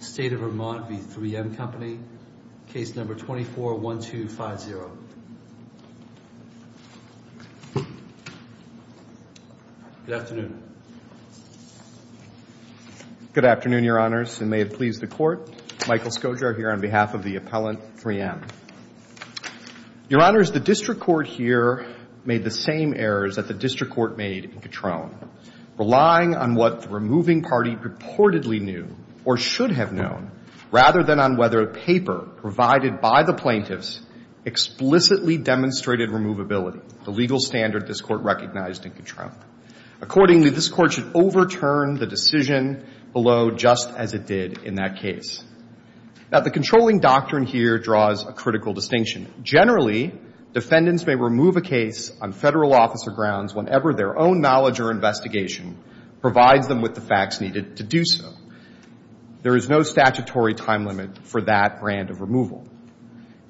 State of Vermont v. 3M Company, case number 24-1250. Good afternoon. Good afternoon, your honors, and may it please the court. Michael Scogar here on behalf of the appellant 3M. Your honors, the district court here made the same errors that the district court made in Katrone, relying on what the removing party purportedly knew or should have known, rather than on whether a paper provided by the plaintiffs explicitly demonstrated removability, the legal standard this court recognized in Katrone. Accordingly, this court should overturn the decision below, just as it did in that case. Now, the controlling doctrine here draws a critical distinction. Generally, defendants may remove a case on Federal officer grounds whenever their own knowledge or investigation provides them with the facts needed to do so. There is no statutory time limit for that brand of removal.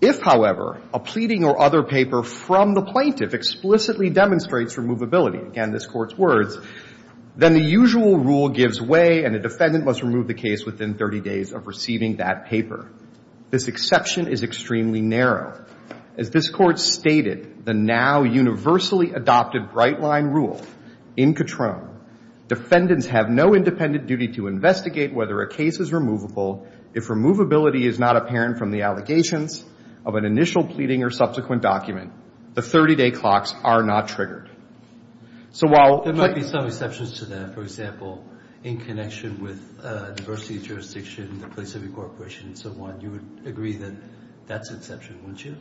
If, however, a pleading or other paper from the plaintiff explicitly demonstrates removability, again, this Court's words, then the usual rule gives way and a defendant must remove the case within 30 days of receiving that paper. This exception is extremely narrow. As this Court stated, the now universally adopted bright-line rule in Katrone, defendants have no independent duty to investigate whether a case is removable if removability is not apparent from the allegations of an initial pleading or subsequent document. The 30-day clocks are not triggered. So while there might be some exceptions to that, for example, in connection with diversity of jurisdiction, the place of incorporation and so on, you would agree that that's an exception, wouldn't you?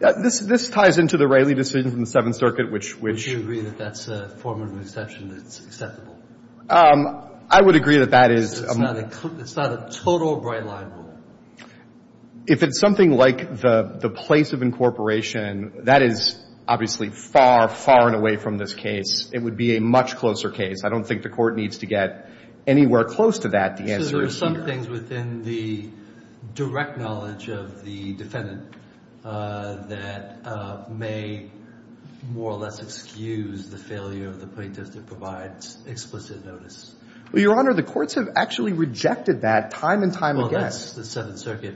This ties into the Raley decision from the Seventh Circuit, which — Would you agree that that's a formative exception, that it's acceptable? I would agree that that is — It's not a total bright-line rule? If it's something like the place of incorporation, that is obviously far, far and away from this case. It would be a much closer case. I don't think the Court needs to get anywhere close to that. So there are some things within the direct knowledge of the defendant that may, more or less, excuse the failure of the plaintiff to provide explicit notice. Well, Your Honor, the courts have actually rejected that time and time again. Well, that's the Seventh Circuit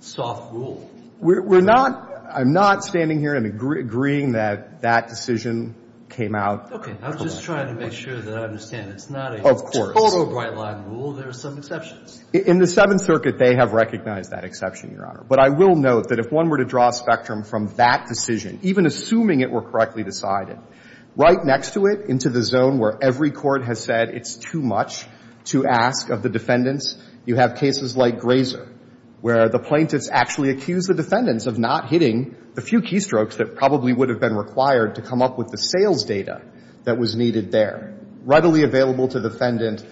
soft rule. We're not — I'm not standing here and agreeing that that decision came out. Okay. I was just trying to make sure that I understand. It's not a total bright-line rule? There are some exceptions? In the Seventh Circuit, they have recognized that exception, Your Honor. But I will note that if one were to draw a spectrum from that decision, even assuming it were correctly decided, right next to it, into the zone where every court has said it's too much to ask of the defendants, you have cases like Grazer, where the plaintiffs actually accuse the defendants of not hitting the few keystrokes that probably would have been required to come up with the sales data that was needed there. Readily available to the defendant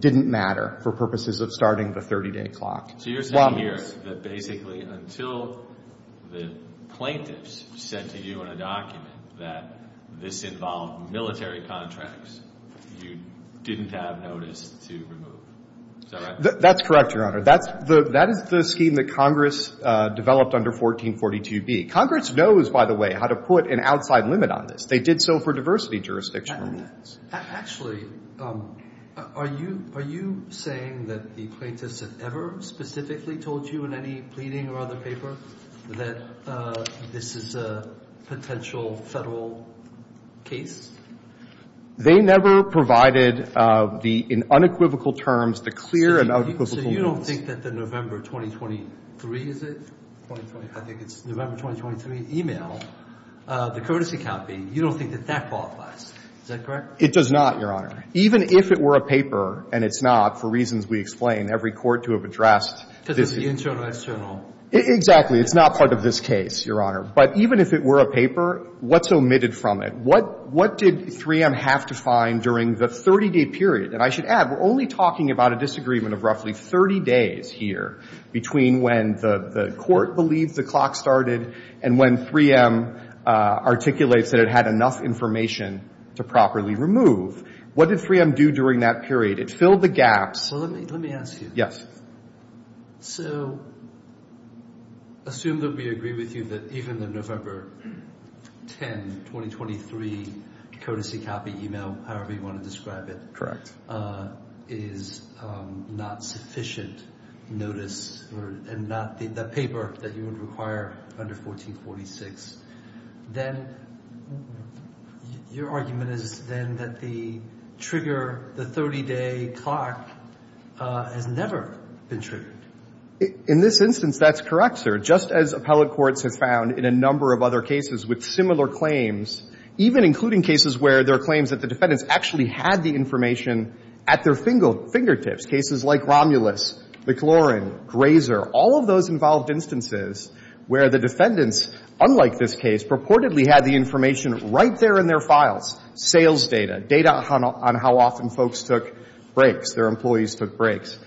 didn't matter for purposes of starting the 30-day clock. So you're saying here that basically until the plaintiffs said to you in a document that this involved military contracts, you didn't have notice to remove? Is that right? That's correct, Your Honor. That's the — that is the scheme that Congress developed under 1442b. Congress knows, by the way, how to put an outside limit on this. They did so for diversity jurisdiction. Actually, are you — are you saying that the plaintiffs have ever specifically told you in any pleading or other paper that this is a potential Federal case? They never provided the — in unequivocal terms, the clear and unequivocal rules. So you don't think that the November 2023, is it? I think it's November 2023 email, the courtesy copy, you don't think that that qualifies? Is that correct? It does not, Your Honor. Even if it were a paper, and it's not, for reasons we explain, every court to have addressed — Because it's the internal-external. Exactly. It's not part of this case, Your Honor. But even if it were a paper, what's omitted from it? What — what did 3M have to find during the 30-day period? And I should add, we're only talking about a disagreement of roughly 30 days here, between when the — the court believes the clock started and when 3M articulates that it had enough information to properly remove. What did 3M do during that period? It filled the gaps — Well, let me — let me ask you. Yes. So, assume that we agree with you that even the November 10, 2023, courtesy copy email, however you want to describe it — Correct. — is not sufficient notice, and not the paper that you would require under 1446. Then — your argument is, then, that the trigger, the 30-day clock, has never been triggered. In this instance, that's correct, sir. Just as appellate courts have found in a number of other cases with similar claims, even including cases where there are claims that the defendants actually had the information at their finger — fingertips, cases like Romulus, McLaurin, Grazer, all of those involved instances where the defendants, unlike this case, purportedly had the information right there in their files — sales data, data on how often folks took breaks, their employees took breaks.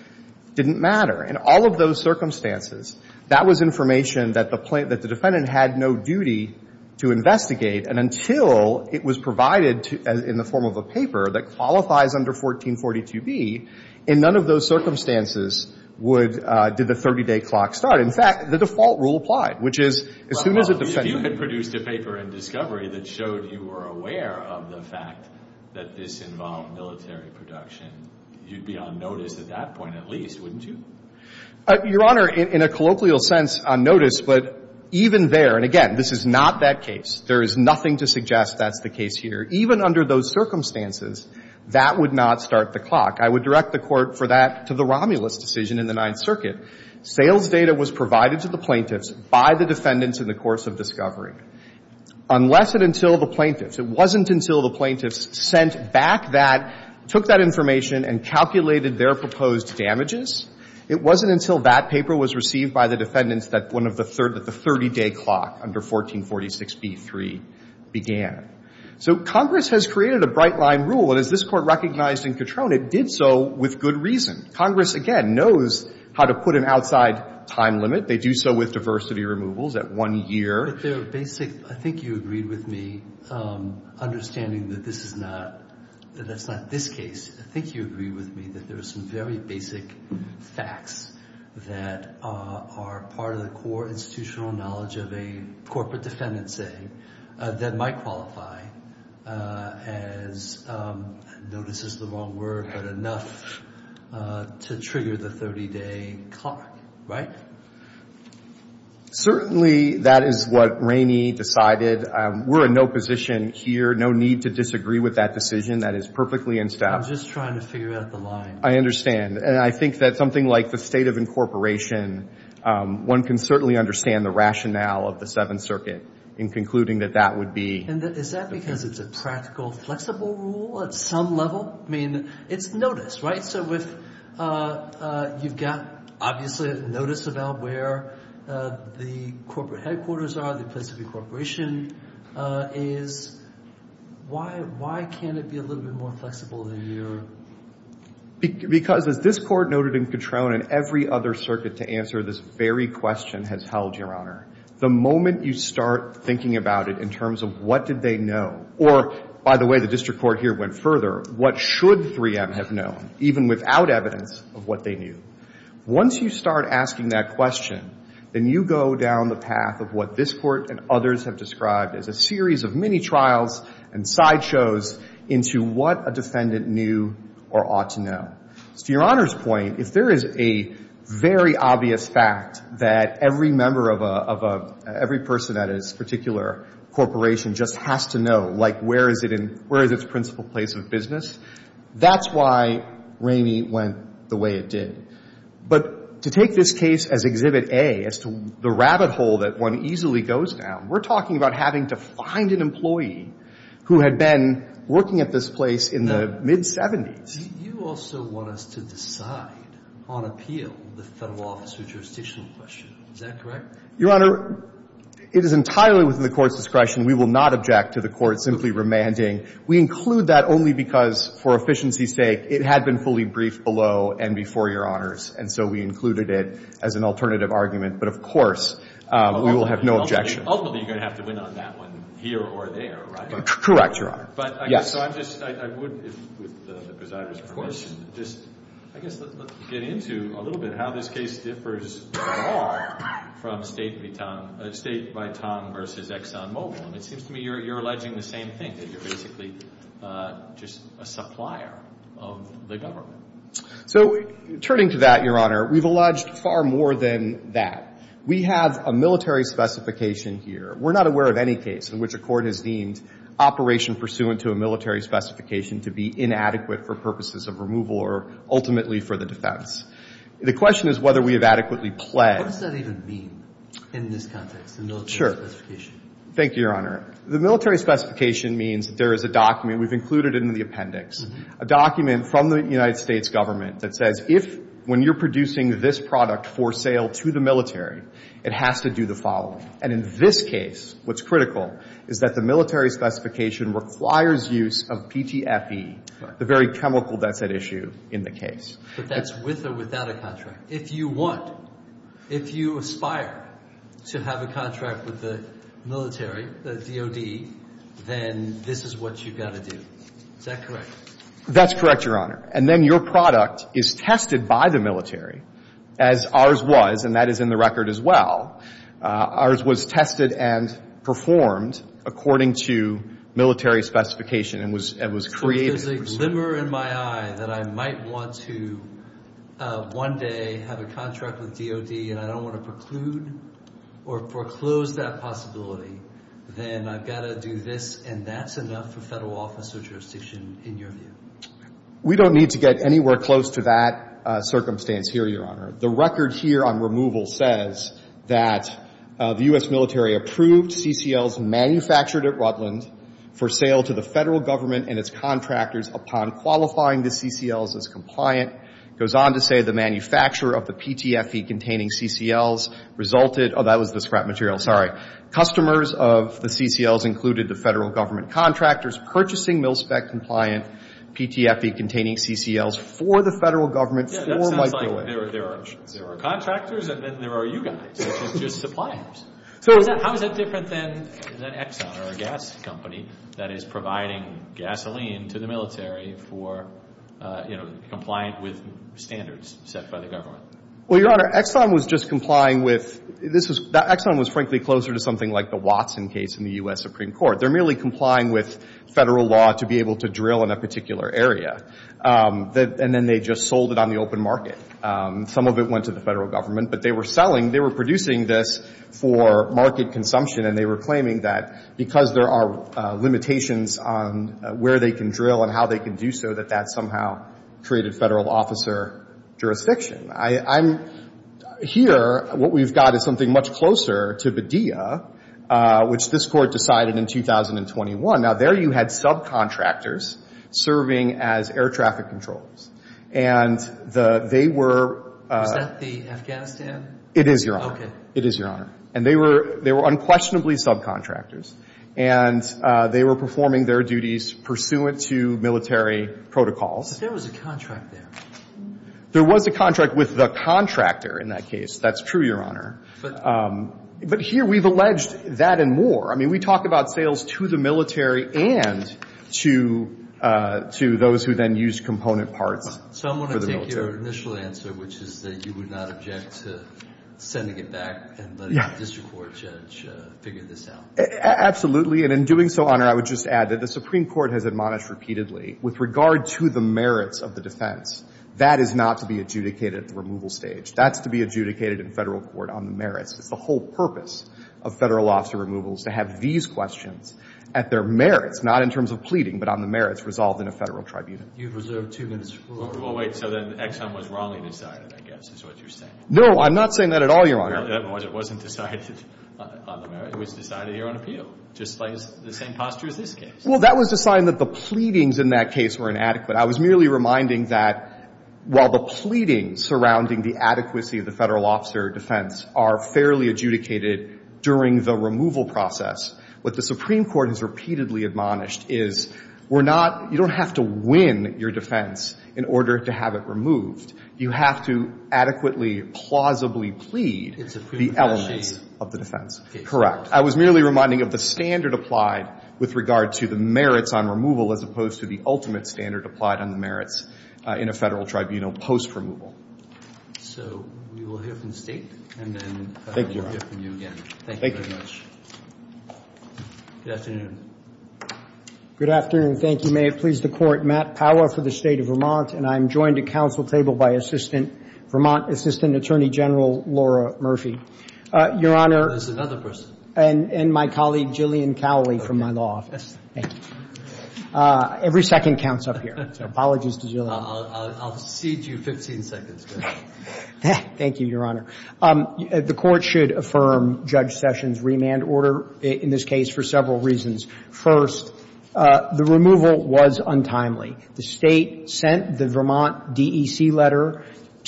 Didn't matter. In all of those circumstances, that was information that the defendant had no duty to investigate. And until it was provided in the form of a paper that qualifies under 1442B, in none of those circumstances would — did the 30-day clock start. In fact, the default rule applied, which is, as soon as a defendant — Well, if you had produced a paper in discovery that showed you were aware of the fact that this involved military production, you'd be on notice at that point at least, wouldn't you? Your Honor, in a colloquial sense, on notice. But even there — and again, this is not that case. There is nothing to suggest that's the case here. Even under those circumstances, that would not start the clock. I would direct the Court for that to the Romulus decision in the Ninth Circuit. Sales data was provided to the plaintiffs by the defendants in the course of discovery. Unless and until the plaintiffs — it wasn't until the plaintiffs sent back that — took that information and calculated their proposed damages, it wasn't until that paper was received by the defendants that one of the — that the 30-day clock under 1446B3 began. So Congress has created a bright-line rule, and as this Court recognized in Katrone, it did so with good reason. Congress, again, knows how to put an outside time limit. They do so with diversity removals at one year. But there are basic — I think you agreed with me, understanding that this is not — that that's not this case. I think you agreed with me that there are some very basic facts that are part of the core institutional knowledge of a corporate defendant, say, that might qualify as — I mean, to trigger the 30-day clock. Certainly, that is what Rainey decided. We're in no position here — no need to disagree with that decision. That is perfectly in step. I'm just trying to figure out the line. I understand. And I think that something like the state of incorporation, one can certainly understand the rationale of the Seventh Circuit in concluding that that would be — And is that because it's a practical, flexible rule at some level? I mean, it's noticed, right? So if you've got, obviously, notice about where the corporate headquarters are, the place of incorporation is, why can't it be a little bit more flexible than your — Because as this Court noted in Patron and every other circuit to answer this very question has held, Your Honor, the moment you start thinking about it in terms of what did they know — or, by the way, the district court here went further — what should 3M have known, even without evidence of what they knew? Once you start asking that question, then you go down the path of what this Court and others have described as a series of mini-trials and sideshows into what a defendant knew or ought to know. To Your Honor's point, if there is a very obvious fact that every member of a — every person at a particular corporation just has to know, like, where is it in — where is it in the court's principal place of business, that's why Ramey went the way it did. But to take this case as Exhibit A, as to the rabbit hole that one easily goes down, we're talking about having to find an employee who had been working at this place in the mid-'70s. You also want us to decide on appeal the Federal Office of Jurisdiction question. Is that correct? Your Honor, it is entirely within the Court's discretion. We will not object to the Court simply remanding. We include that only because, for efficiency's sake, it had been fully briefed below and before Your Honors. And so we included it as an alternative argument. But, of course, we will have no objection. Ultimately, you're going to have to win on that one here or there, right? Correct, Your Honor. But I guess — Yes. So I'm just — I would, with the presider's permission, just — I guess let's get into a little bit how this case differs at all from State v. Tong — State v. Tong v. Exxon Mobil. It seems to me you're alleging the same thing, that you're basically just a supplier of the government. So turning to that, Your Honor, we've alleged far more than that. We have a military specification here. We're not aware of any case in which a court has deemed operation pursuant to a military specification to be inadequate for purposes of removal or ultimately for the defense. The question is whether we have adequately pledged — What does that even mean in this context, the military specification? Sure. Thank you, Your Honor. The military specification means there is a document — we've included it in the appendix — a document from the United States government that says if, when you're producing this product for sale to the military, it has to do the following. And in this case, what's critical is that the military specification requires use of PTFE, the very chemical that's at issue in the case. But that's with or without a contract. If you want, if you aspire to have a contract with the military, the DOD, then this is what you've got to do. Is that correct? That's correct, Your Honor. And then your product is tested by the military, as ours was, and that is in the record as well. Ours was tested and performed according to military specification and was created — Slimmer in my eye that I might want to one day have a contract with DOD and I don't want to preclude or foreclose that possibility, then I've got to do this, and that's enough for federal officer jurisdiction, in your view. We don't need to get anywhere close to that circumstance here, Your Honor. The record here on removal says that the U.S. military approved CCLs manufactured at Rutland for sale to the federal government and its contractors upon qualifying the CCLs as compliant. It goes on to say the manufacturer of the PTFE-containing CCLs resulted — oh, that was the scrap material. Sorry. Customers of the CCLs included the federal government contractors purchasing mil-spec compliant PTFE-containing CCLs for the federal government for Mike DeWitt. Yeah, that sounds like there are contractors and then there are you guys, which is just suppliers. How is that different than Exxon or a gas company that is providing gasoline to the military for, you know, compliant with standards set by the government? Well, Your Honor, Exxon was just complying with — Exxon was frankly closer to something like the Watson case in the U.S. Supreme Court. They're merely complying with federal law to be able to drill in a particular area, and then they just sold it on the open market. Some of it went to the federal government, but they were selling — they were producing this for market consumption, and they were claiming that because there are limitations on where they can drill and how they can do so, that that somehow created federal officer jurisdiction. I'm — here, what we've got is something much closer to Badia, which this Court decided in 2021. Now, there you had subcontractors serving as air traffic controllers, and the — they were — Is that the Afghanistan? It is, Your Honor. Okay. It is, Your Honor. And they were — they were unquestionably subcontractors, and they were performing their duties pursuant to military protocols. But there was a contract there. There was a contract with the contractor in that case. That's true, Your Honor. But — But here we've alleged that and more. I mean, we talk about sales to the military and to — to those who then used component parts for the military. So I'm going to take your initial answer, which is that you would not object to sending it back and letting the district court judge figure this out. Absolutely. And in doing so, Your Honor, I would just add that the Supreme Court has admonished repeatedly, with regard to the merits of the defense, that is not to be adjudicated at the removal stage. That's to be adjudicated in federal court on the merits. It's the whole purpose of federal officer removals to have these questions at their merits, not in terms of pleading, but on the merits resolved in a federal tribunal. You've reserved two minutes for — Well, wait. So then Exxon was wrongly decided, I guess, is what you're saying. No, I'm not saying that at all, Your Honor. Well, it wasn't decided on the merits. It was decided here on appeal, just the same posture as this case. Well, that was a sign that the pleadings in that case were inadequate. I was merely reminding that while the pleadings surrounding the adequacy of the federal officer defense are fairly adjudicated during the removal process, what the Supreme Court has repeatedly admonished is we're not — you don't have to win your defense in order to have it removed. You have to adequately, plausibly plead the elements of the defense. I was merely reminding of the standard applied with regard to the merits on removal as opposed to the ultimate standard applied on the merits in a federal tribunal post-removal. So we will hear from the State, and then we'll hear from you again. Thank you very much. Good afternoon. Good afternoon. Thank you. May it please the Court. Matt Powa for the State of Vermont, and I'm joined at council table by Assistant Vermont — Assistant Attorney General Laura Murphy. Your Honor — There's another person. And my colleague, Jillian Cowley, from my law office. Thank you. Every second counts up here, so apologies to Jillian. I'll cede you 15 seconds. Thank you, Your Honor. The Court should affirm Judge Sessions' remand order in this case for several reasons. First, the removal was untimely. The State sent the Vermont DEC letter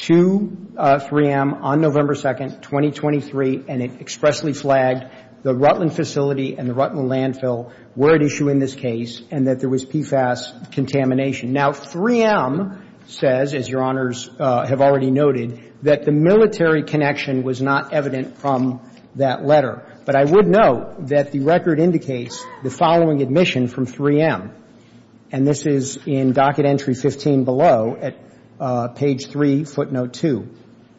to 3M on November 2nd, 2023, and it expressly flagged the Rutland facility and the Rutland landfill were at issue in this case and that there was PFAS contamination. Now, 3M says, as Your Honors have already noted, that the military connection was not evident from that letter. But I would note that the record indicates the following admission from 3M, and this is in docket entry 15 below at page 3, footnote 2,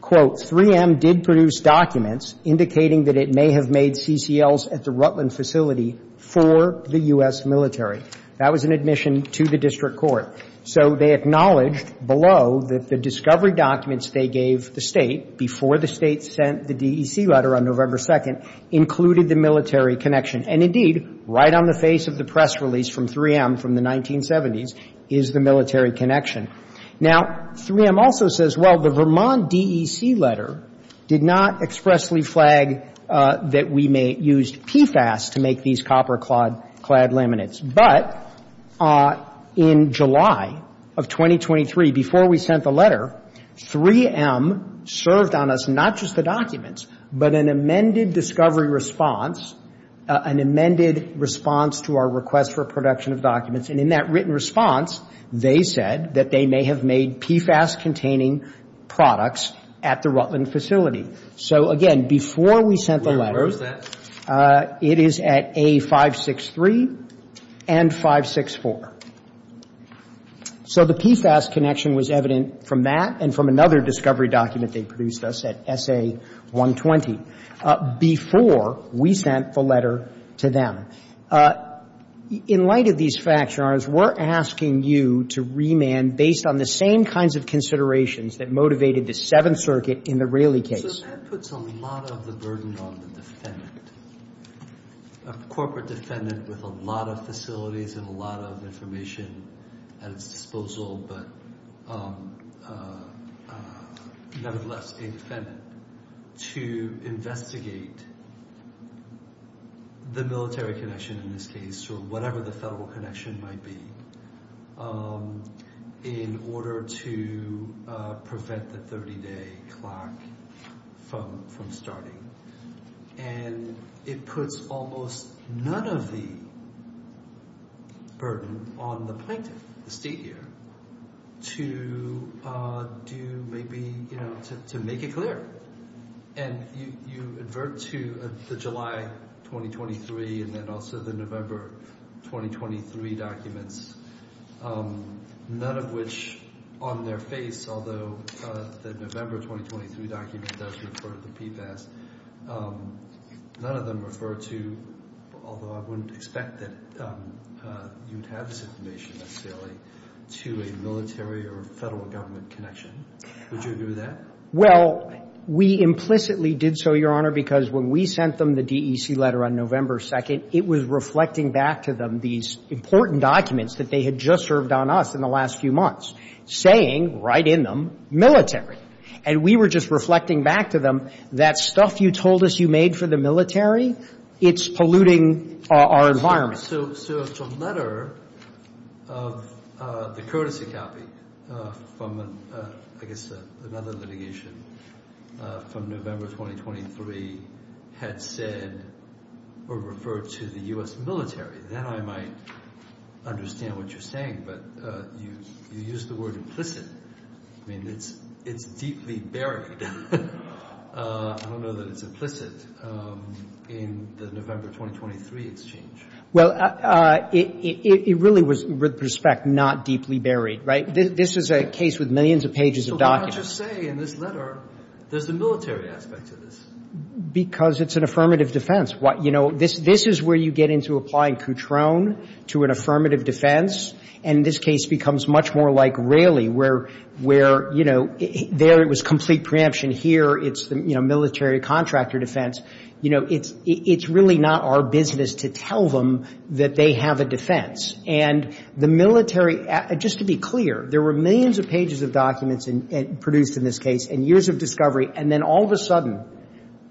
quote, 3M did produce documents indicating that it may have made CCLs at the Rutland facility for the U.S. military. That was an admission to the district court. So they acknowledged below that the discovery documents they gave the State before the State sent the DEC letter on November 2nd included the military connection. And indeed, right on the face of the press release from 3M from the 1970s is the military connection. Now, 3M also says, well, the Vermont DEC letter did not expressly flag that we may use PFAS to make these copper-clad laminates. But in July of 2023, before we sent the letter, 3M served on us not just the documents, but an amended discovery response, an amended response to our request for production of documents. And in that written response, they said that they may have made PFAS-containing products at the Rutland facility. So, again, before we sent the letters. It is at A563 and 564. So the PFAS connection was evident from that and from another discovery document they produced us at SA120 before we sent the letter to them. In light of these facts, Your Honors, we're asking you to remand based on the same kinds of considerations that motivated the Seventh Circuit in the Raley case. So that puts a lot of the burden on the defendant, a corporate defendant with a lot of facilities and a lot of information at its disposal, but nonetheless a defendant, to investigate the military connection in this case or whatever the federal connection might be in order to prevent the 30-day clock from starting. And it puts almost none of the burden on the plaintiff, the state here, to do maybe, you know, to make it clear. And you advert to the July 2023 and then also the November 2023 documents, none of which on their face, although the November 2023 document does refer to the PFAS, none of them refer to, although I wouldn't expect that you would have this information necessarily, to a military or federal government connection. Would you agree with that? Well, we implicitly did so, Your Honor, because when we sent them the DEC letter on November 2nd, it was reflecting back to them these important documents that they had just served on us in the last few months, saying right in them, military. And we were just reflecting back to them, that stuff you told us you made for the military, it's polluting our environment. So if the letter of the courtesy copy from, I guess, another litigation from November 2023 had said or referred to the U.S. military, then I might understand what you're saying. But you use the word implicit. I mean, it's deeply buried. I don't know that it's implicit in the November 2023 exchange. Well, it really was, with respect, not deeply buried. Right? This is a case with millions of pages of documents. So why don't you say in this letter there's a military aspect to this? Because it's an affirmative defense. You know, this is where you get into applying Cutrone to an affirmative defense, and this case becomes much more like Raley, where, you know, there it was complete preemption. Here it's the military contractor defense. You know, it's really not our business to tell them that they have a defense. And the military, just to be clear, there were millions of pages of documents produced in this case and years of discovery. And then all of a sudden,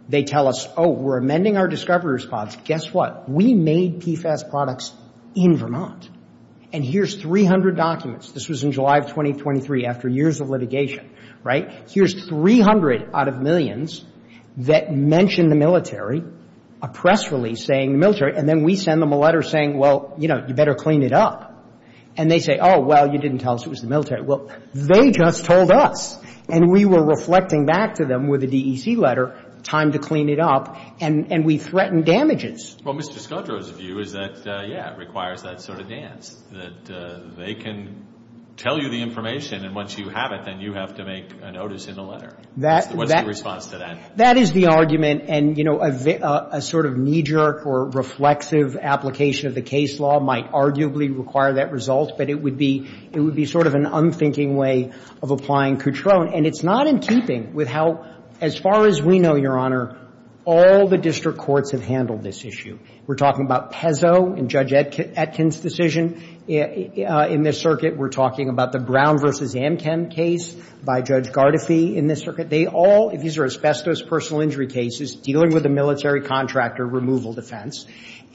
they tell us, oh, we're amending our discovery response. Guess what? We made PFAS products in Vermont. And here's 300 documents. This was in July of 2023, after years of litigation. Right? Here's 300 out of millions that mention the military, a press release saying the And then we send them a letter saying, well, you know, you better clean it up. And they say, oh, well, you didn't tell us it was the military. Well, they just told us. And we were reflecting back to them with a DEC letter, time to clean it up, and we threatened damages. Well, Mr. Scottrow's view is that, yeah, it requires that sort of dance, that they can tell you the information, and once you have it, then you have to make a notice in the letter. What's the response to that? That is the argument. And, you know, a sort of knee-jerk or reflexive application of the case law might arguably require that result. But it would be sort of an unthinking way of applying Coutrone. And it's not in keeping with how, as far as we know, Your Honor, all the district courts have handled this issue. We're talking about Pezzo in Judge Etkin's decision in this circuit. We're talking about the Brown v. Amchem case by Judge Gardefee in this circuit. They all, these are asbestos personal injury cases dealing with a military contractor removal defense.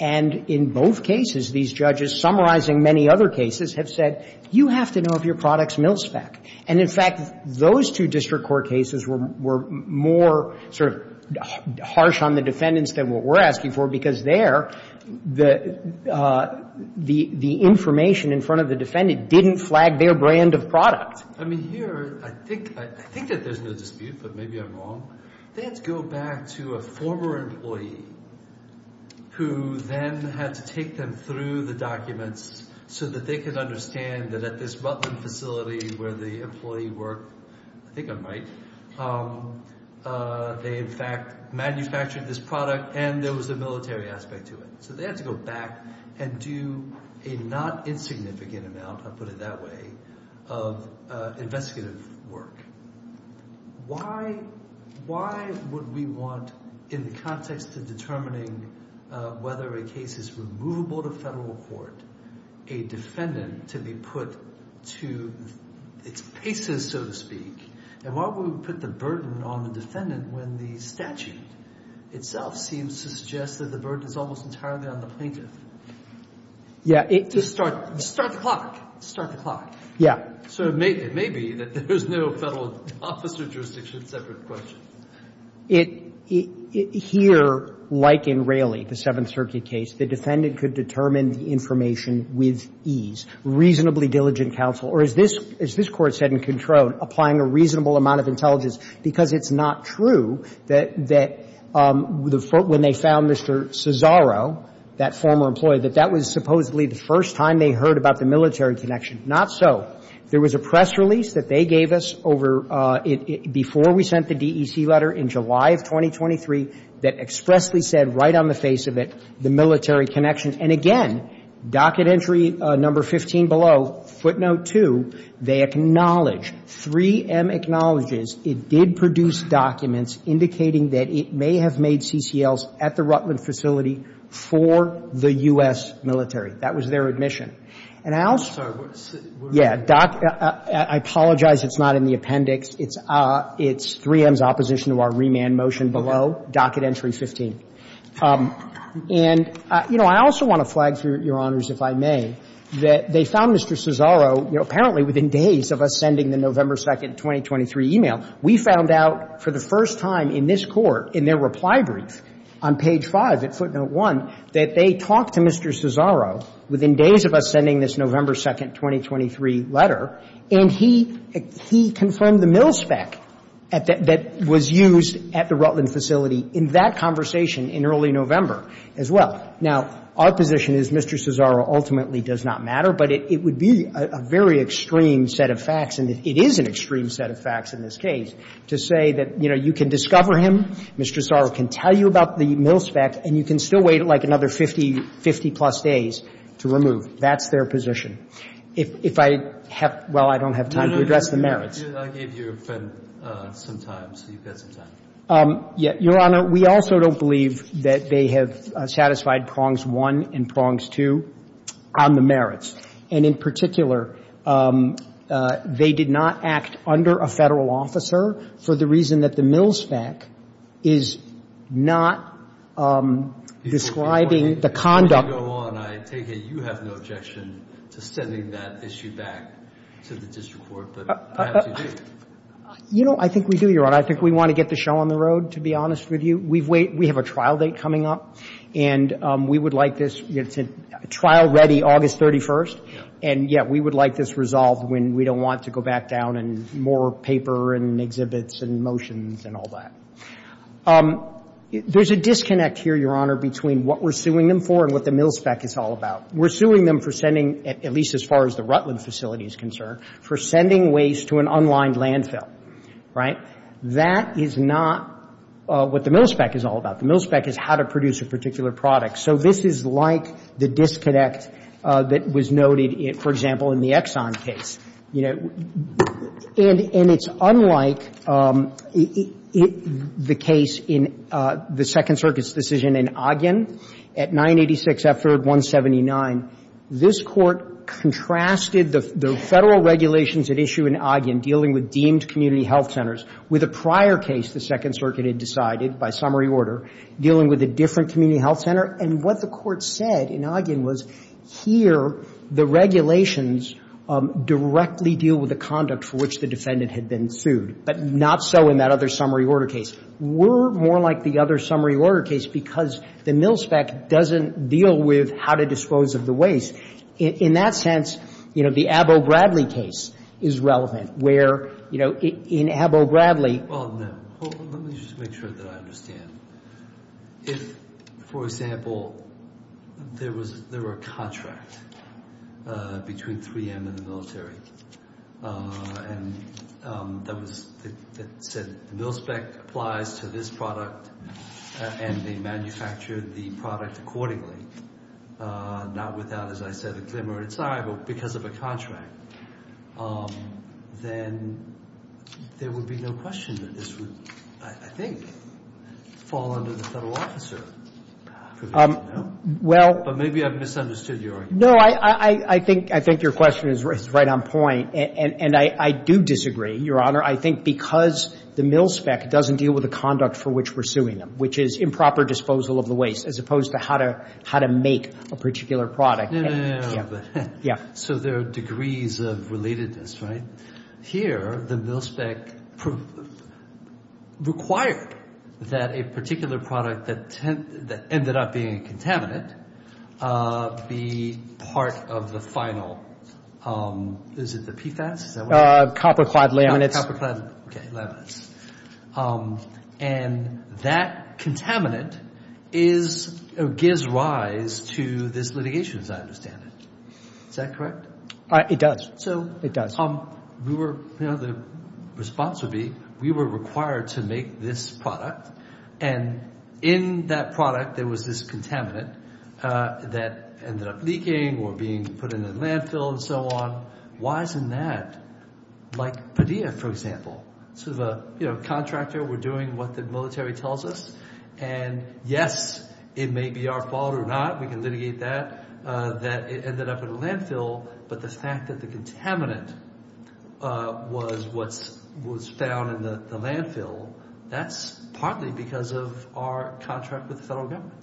And in both cases, these judges, summarizing many other cases, have said, you have to know if your product's mil-spec. And, in fact, those two district court cases were more sort of harsh on the defendants than what we're asking for, because there, the information in front of the defendant didn't flag their brand of product. I mean, here, I think that there's no dispute, but maybe I'm wrong. They had to go back to a former employee who then had to take them through the documents so that they could understand that at this Butlin facility where the employee worked, I think I'm right, they, in fact, manufactured this product and there was a military aspect to it. So they had to go back and do a not insignificant amount, I'll put it that way, of investigative work. Why would we want, in the context of determining whether a case is removable to federal court, a defendant to be put to its paces, so to speak? And why would we put the burden on the defendant when the statute itself seems to suggest that the burden is almost entirely on the plaintiff? Yeah. To start the clock. Start the clock. Yeah. So it may be that there's no Federal officer jurisdiction separate question. It here, like in Raley, the Seventh Circuit case, the defendant could determine the information with ease. Reasonably diligent counsel. Or as this Court said in Controne, applying a reasonable amount of intelligence because it's not true that when they found Mr. Cesaro, that former employee, that that was supposedly the first time they heard about the military connection. Not so. There was a press release that they gave us over, before we sent the DEC letter, in July of 2023, that expressly said right on the face of it, the military connection. And again, docket entry number 15 below, footnote 2, they acknowledge, 3M acknowledges it did produce documents indicating that it may have made CCLs at the Rutland facility for the U.S. military. That was their admission. And I also. Yeah. I apologize it's not in the appendix. It's 3M's opposition to our remand motion below, docket entry 15. And, you know, I also want to flag, Your Honors, if I may, that they found Mr. Cesaro, you know, apparently within days of us sending the November 2nd, 2023 email, we found out for the first time in this Court, in their reply brief on page 5 at footnote 1, that they talked to Mr. Cesaro within days of us sending this November 2nd, 2023 letter, and he confirmed the mil spec that was used at the Rutland facility in that conversation in early November as well. Now, our position is Mr. Cesaro ultimately does not matter, but it would be a very extreme set of facts, and it is an extreme set of facts in this case, to say that, you know, you can discover him, Mr. Cesaro can tell you about the mil spec, and you can still wait, like, another 50 plus days to remove. That's their position. If I have — well, I don't have time to address the merits. Breyer, I gave you some time, so you've got some time. Your Honor, we also don't believe that they have satisfied prongs one and prongs two on the merits. And in particular, they did not act under a Federal officer for the reason that the mil spec is not describing the conduct — If you want to go on, I take it you have no objection to sending that issue back to the district court, but perhaps you do. You know, I think we do, Your Honor. I think we want to get the show on the road, to be honest with you. We have a trial date coming up, and we would like this trial-ready August 31st, and, yeah, we would like this resolved when we don't want to go back down and more paper and exhibits and motions and all that. There's a disconnect here, Your Honor, between what we're suing them for and what the mil spec is all about. We're suing them for sending, at least as far as the Rutland facility is concerned, for sending waste to an unlined landfill, right? That is not what the mil spec is all about. The mil spec is how to produce a particular product. So this is like the disconnect that was noted, for example, in the Exxon case. You know, and it's unlike the case in the Second Circuit's decision in Ogden, at 986 F-3rd-179. This Court contrasted the Federal regulations at issue in Ogden, dealing with deemed community health centers, with a prior case the Second Circuit had decided, by summary order, dealing with a different community health center. And what the Court said in Ogden was, here, the regulations directly deal with the conduct for which the defendant had been sued, but not so in that other summary order case. We're more like the other summary order case because the mil spec doesn't deal with how to dispose of the waste. In that sense, you know, the Abbo-Bradley case is relevant, where, you know, in Abbo-Bradley Well, no. Let me just make sure that I understand. If, for example, there were a contract between 3M and the military, and that said, mil spec applies to this product, and they manufacture the product accordingly, not without, as I said, a glimmer inside, but because of a contract, then there would be no question that this would, I think, fall under the Federal officer provision, no? But maybe I've misunderstood your argument. No, I think your question is right on point, and I do disagree, Your Honor. I think because the mil spec doesn't deal with the conduct for which we're suing them, which is improper disposal of the waste, as opposed to how to make a particular product. No, no, no, no, no, but Yeah. So there are degrees of relatedness, right? Here, the mil spec required that a particular product that ended up being a contaminant be part of the final, is it the PFAS? Is that what it is? Copper clad laminates. Copper clad, okay, laminates. And that contaminant is, or gives rise to this litigation, as I understand it. Is that correct? It does. So? We were, you know, the response would be, we were required to make this product. And in that product, there was this contaminant that ended up leaking or being put in a landfill and so on. Why isn't that? Like Padilla, for example, sort of a, you know, contractor, we're doing what the military tells us. And yes, it may be our fault or not. We can litigate that, that it ended up in a landfill. But the fact that the contaminant was what's, was found in the landfill, that's partly because of our contract with the federal government.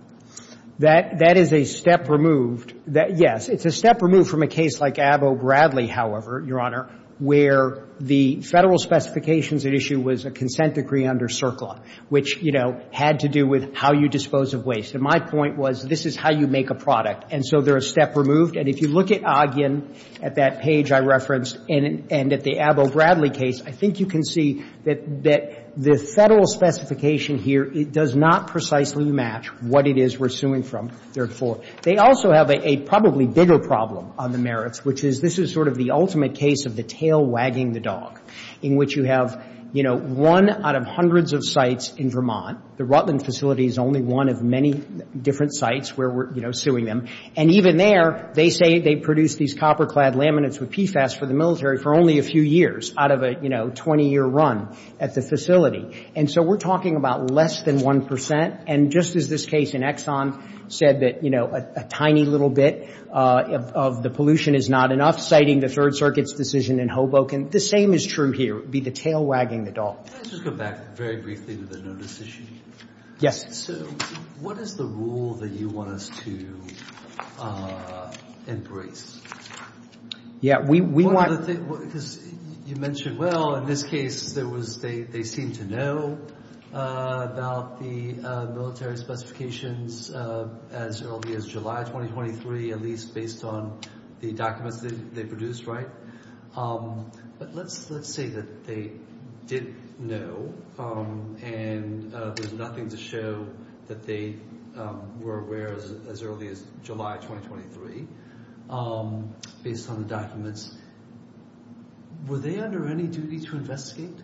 That, that is a step removed. That, yes, it's a step removed from a case like Abo Bradley, however, Your Honor, where the federal specifications at issue was a consent decree under CERCLA, which, you know, had to do with how you dispose of waste. And my point was, this is how you make a product. And so they're a step removed. And if you look at Ogden, at that page I referenced, and, and at the Abo Bradley case, I think you can see that, that the federal specification here, it does not precisely match what it is we're suing from, therefore. They also have a, a probably bigger problem on the merits, which is this is sort of the ultimate case of the tail wagging the dog, in which you have, you know, one out of hundreds of sites in Vermont, the Rutland facility is only one of many different sites where we're, you know, suing them. And even there, they say they produce these copper-clad laminates with PFAS for the military for only a few years out of a, you know, 20-year run at the facility. And so we're talking about less than 1 percent. And just as this case in Exxon said that, you know, a, a tiny little bit of, of the pollution is not enough, citing the Third Circuit's decision in Hoboken, the same is true here. It would be the tail wagging the dog. Can I just go back very briefly to the notice issue? Yes. So what is the rule that you want us to embrace? Yeah, we, we want... Because you mentioned, well, in this case, there was, they, they seem to know about the military specifications as early as July 2023, at least based on the documents that they produced, right? But let's, let's say that they did know and there's nothing to show that they were aware as early as July 2023, based on the documents. Were they under any duty to investigate?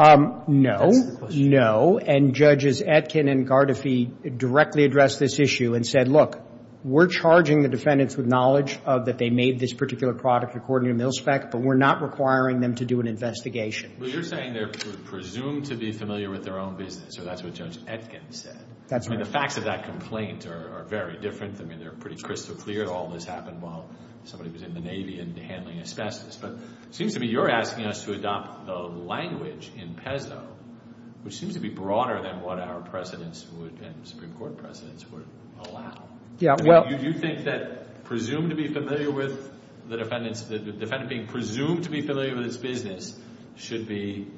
No. And Judges Etkin and Gardafi directly addressed this issue and said, look, we're charging the defendants with knowledge of that they made this particular product according to mil-spec, but we're not requiring them to do an investigation. But you're saying they're presumed to be familiar with their own business, or that's what Judge Etkin said. That's right. I mean, the facts of that complaint are, are very different. I mean, they're pretty crystal clear that all this happened while somebody was in the Navy and handling asbestos. But it seems to me you're asking us to adopt the language in PESO, which seems to be broader than what our precedents would and Supreme Court precedents would allow. Yeah. I mean, do you think that presumed to be familiar with the defendants, the defendant being presumed to be familiar with its business should be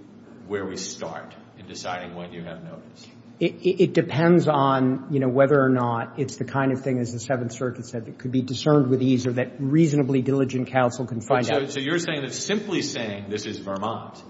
where we start in deciding when you have notice? It depends on, you know, whether or not it's the kind of thing, as the Seventh Circuit said, that could be discerned with ease or that reasonably diligent counsel can find out. So you're saying that simply saying this is Vermont,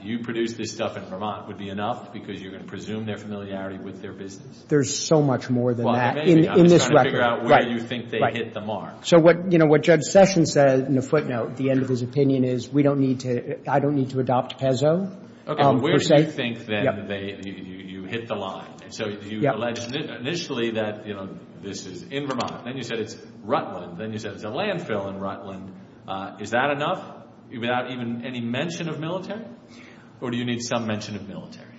you produced this stuff in Vermont, would be enough because you're going to presume their familiarity with their business? There's so much more than that. In this record. I'm just trying to figure out where you think they hit the mark. So what, you know, what Judge Sessions said in a footnote, the end of his opinion is we don't need to, I don't need to adopt PESO. Okay. But where do you think then they, you hit the line? So you alleged initially that, you know, this is in Vermont. Then you said it's Rutland. Then you said it's a landfill in Rutland. Is that enough without even any mention of military? Or do you need some mention of military?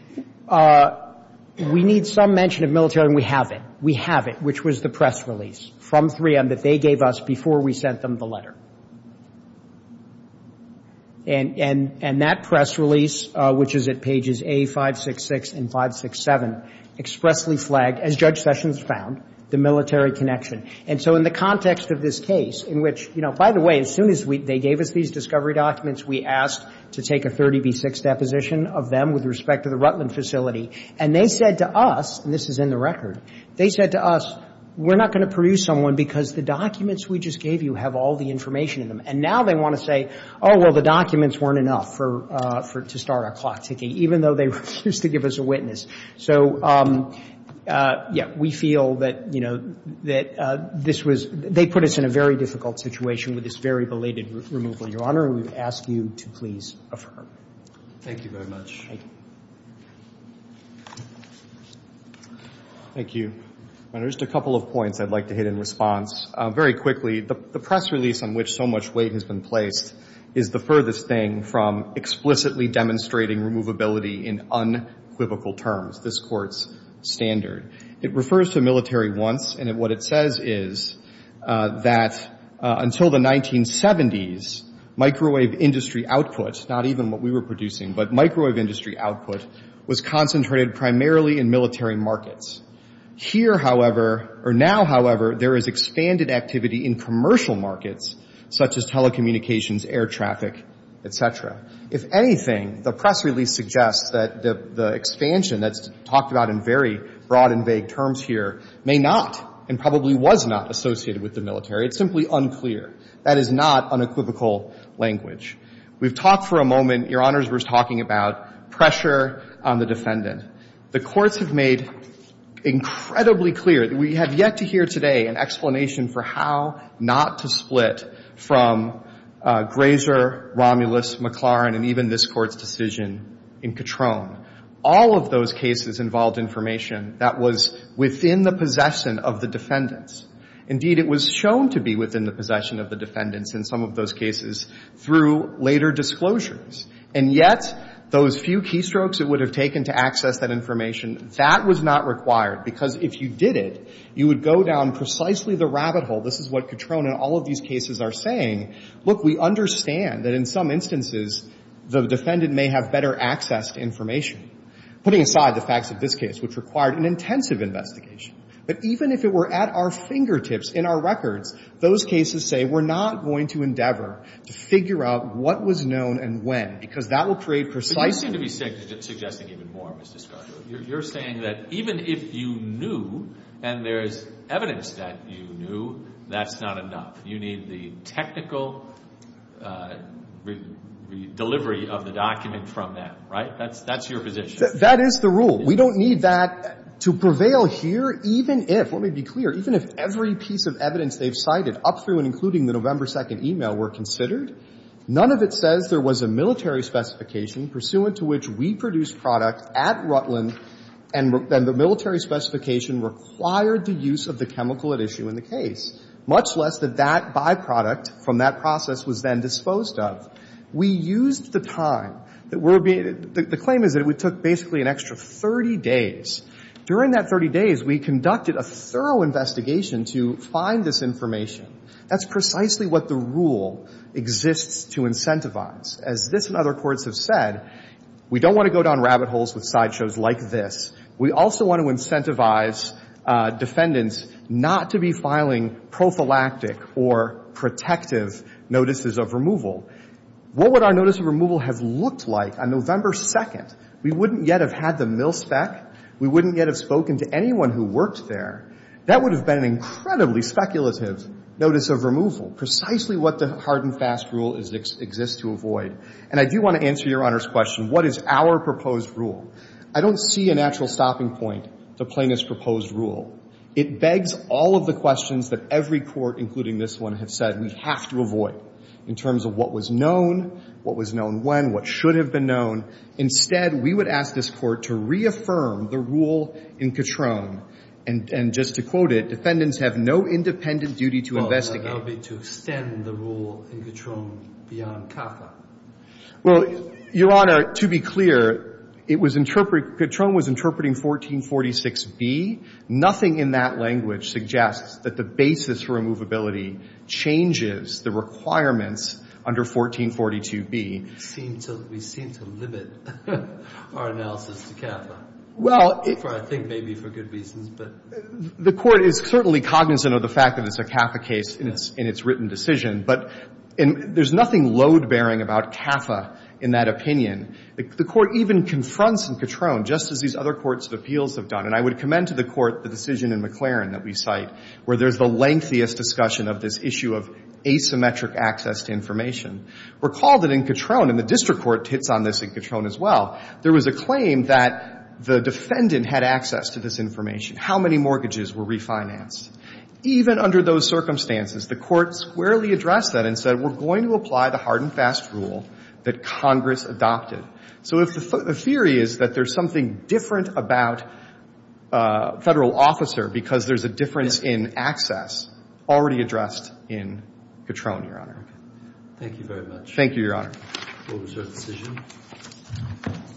We need some mention of military and we have it. We have it, which was the press release from 3M that they gave us before we sent them the letter. And that press release, which is at pages A566 and 567, expressly flagged, as Judge Sessions found, the military connection. And so in the context of this case, in which, you know, by the way, as soon as they gave us these discovery documents, we asked to take a 30B6 deposition of them with respect to the Rutland facility. And they said to us, and this is in the record, they said to us, we're not going to produce someone because the documents we just gave you have all the information in them. And now they want to say, oh, well, the documents weren't enough for to start a clock ticking, even though they refused to give us a witness. So, yeah, we feel that, you know, that this was they put us in a very difficult situation with this very belated removal. Your Honor, we ask you to please affirm. Thank you very much. Thank you. Thank you. Your Honor, just a couple of points I'd like to hit in response. Very quickly, the press release on which so much weight has been placed is the furthest thing from explicitly demonstrating removability in unequivocal terms, this Court's standard. It refers to military wants, and what it says is that until the 1970s, microwave industry output, not even what we were producing, but microwave industry output was concentrated primarily in military markets. Here, however, or now, however, there is expanded activity in commercial markets, such as telecommunications, air traffic, et cetera. If anything, the press release suggests that the expansion that's talked about in very broad and vague terms here may not and probably was not associated with the military. It's simply unclear. That is not unequivocal language. We've talked for a moment, Your Honors, we're talking about pressure on the defendant. The courts have made incredibly clear that we have yet to hear today an explanation for how not to split from Grazer, Romulus, McLaurin, and even this Court's decision in Katrone. All of those cases involved information that was within the possession of the defendants. Indeed, it was shown to be within the possession of the defendants in some of those cases through later disclosures. And yet, those few keystrokes it would have taken to access that information, that was not required, because if you did it, you would go down precisely the rabbit hole. This is what Katrone and all of these cases are saying. Look, we understand that in some instances, the defendant may have better access to Putting aside the facts of this case, which required an intensive investigation, but even if it were at our fingertips in our records, those cases say we're not going to endeavor to figure out what was known and when, because that will create precise But you seem to be suggesting even more misdisclosure. You're saying that even if you knew, and there's evidence that you knew, that's not enough. You need the technical delivery of the document from them, right? That's your position. That is the rule. We don't need that to prevail here, even if, let me be clear, even if every piece of evidence they've cited up through and including the November 2nd e-mail were considered, none of it says there was a military specification pursuant to which we produced product at Rutland and the military specification required the use of the chemical at issue in the case, much less that that byproduct from that process was then disposed of. We used the time that we're being, the claim is that we took basically an extra 30 days. During that 30 days, we conducted a thorough investigation to find this information. That's precisely what the rule exists to incentivize. As this and other courts have said, we don't want to go down rabbit holes with sideshows like this. We also want to incentivize defendants not to be filing prophylactic or protective notices of removal. What would our notice of removal have looked like on November 2nd? We wouldn't yet have had the mil spec. We wouldn't yet have spoken to anyone who worked there. That would have been an incredibly speculative notice of removal, precisely what the hard and fast rule exists to avoid. And I do want to answer Your Honor's question, what is our proposed rule? I don't see a natural stopping point to plaintiff's proposed rule. It begs all of the questions that every court, including this one, has said we have to avoid in terms of what was known, what was known when, what should have been known. Instead, we would ask this court to reaffirm the rule in Catron. And just to quote it, defendants have no independent duty to investigate. Well, that would be to extend the rule in Catron beyond CAFA. Well, Your Honor, to be clear, it was interpreted, Catron was interpreting 1446B. Nothing in that language suggests that the basis for removability changes the requirements under 1442B. We seem to limit our analysis to CAFA. I think maybe for good reasons. The Court is certainly cognizant of the fact that it's a CAFA case in its written decision. But there's nothing load-bearing about CAFA in that opinion. The Court even confronts in Catron, just as these other courts of appeals have done, and I commend to the Court the decision in McLaren that we cite, where there's the lengthiest discussion of this issue of asymmetric access to information. Recall that in Catron, and the district court hits on this in Catron as well, there was a claim that the defendant had access to this information. How many mortgages were refinanced? Even under those circumstances, the Court squarely addressed that and said, we're going to apply the hard and fast rule that Congress adopted. So the theory is that there's something different about federal officer because there's a difference in access already addressed in Catron, Your Honor. Thank you very much. Thank you, Your Honor. We'll reserve the decision.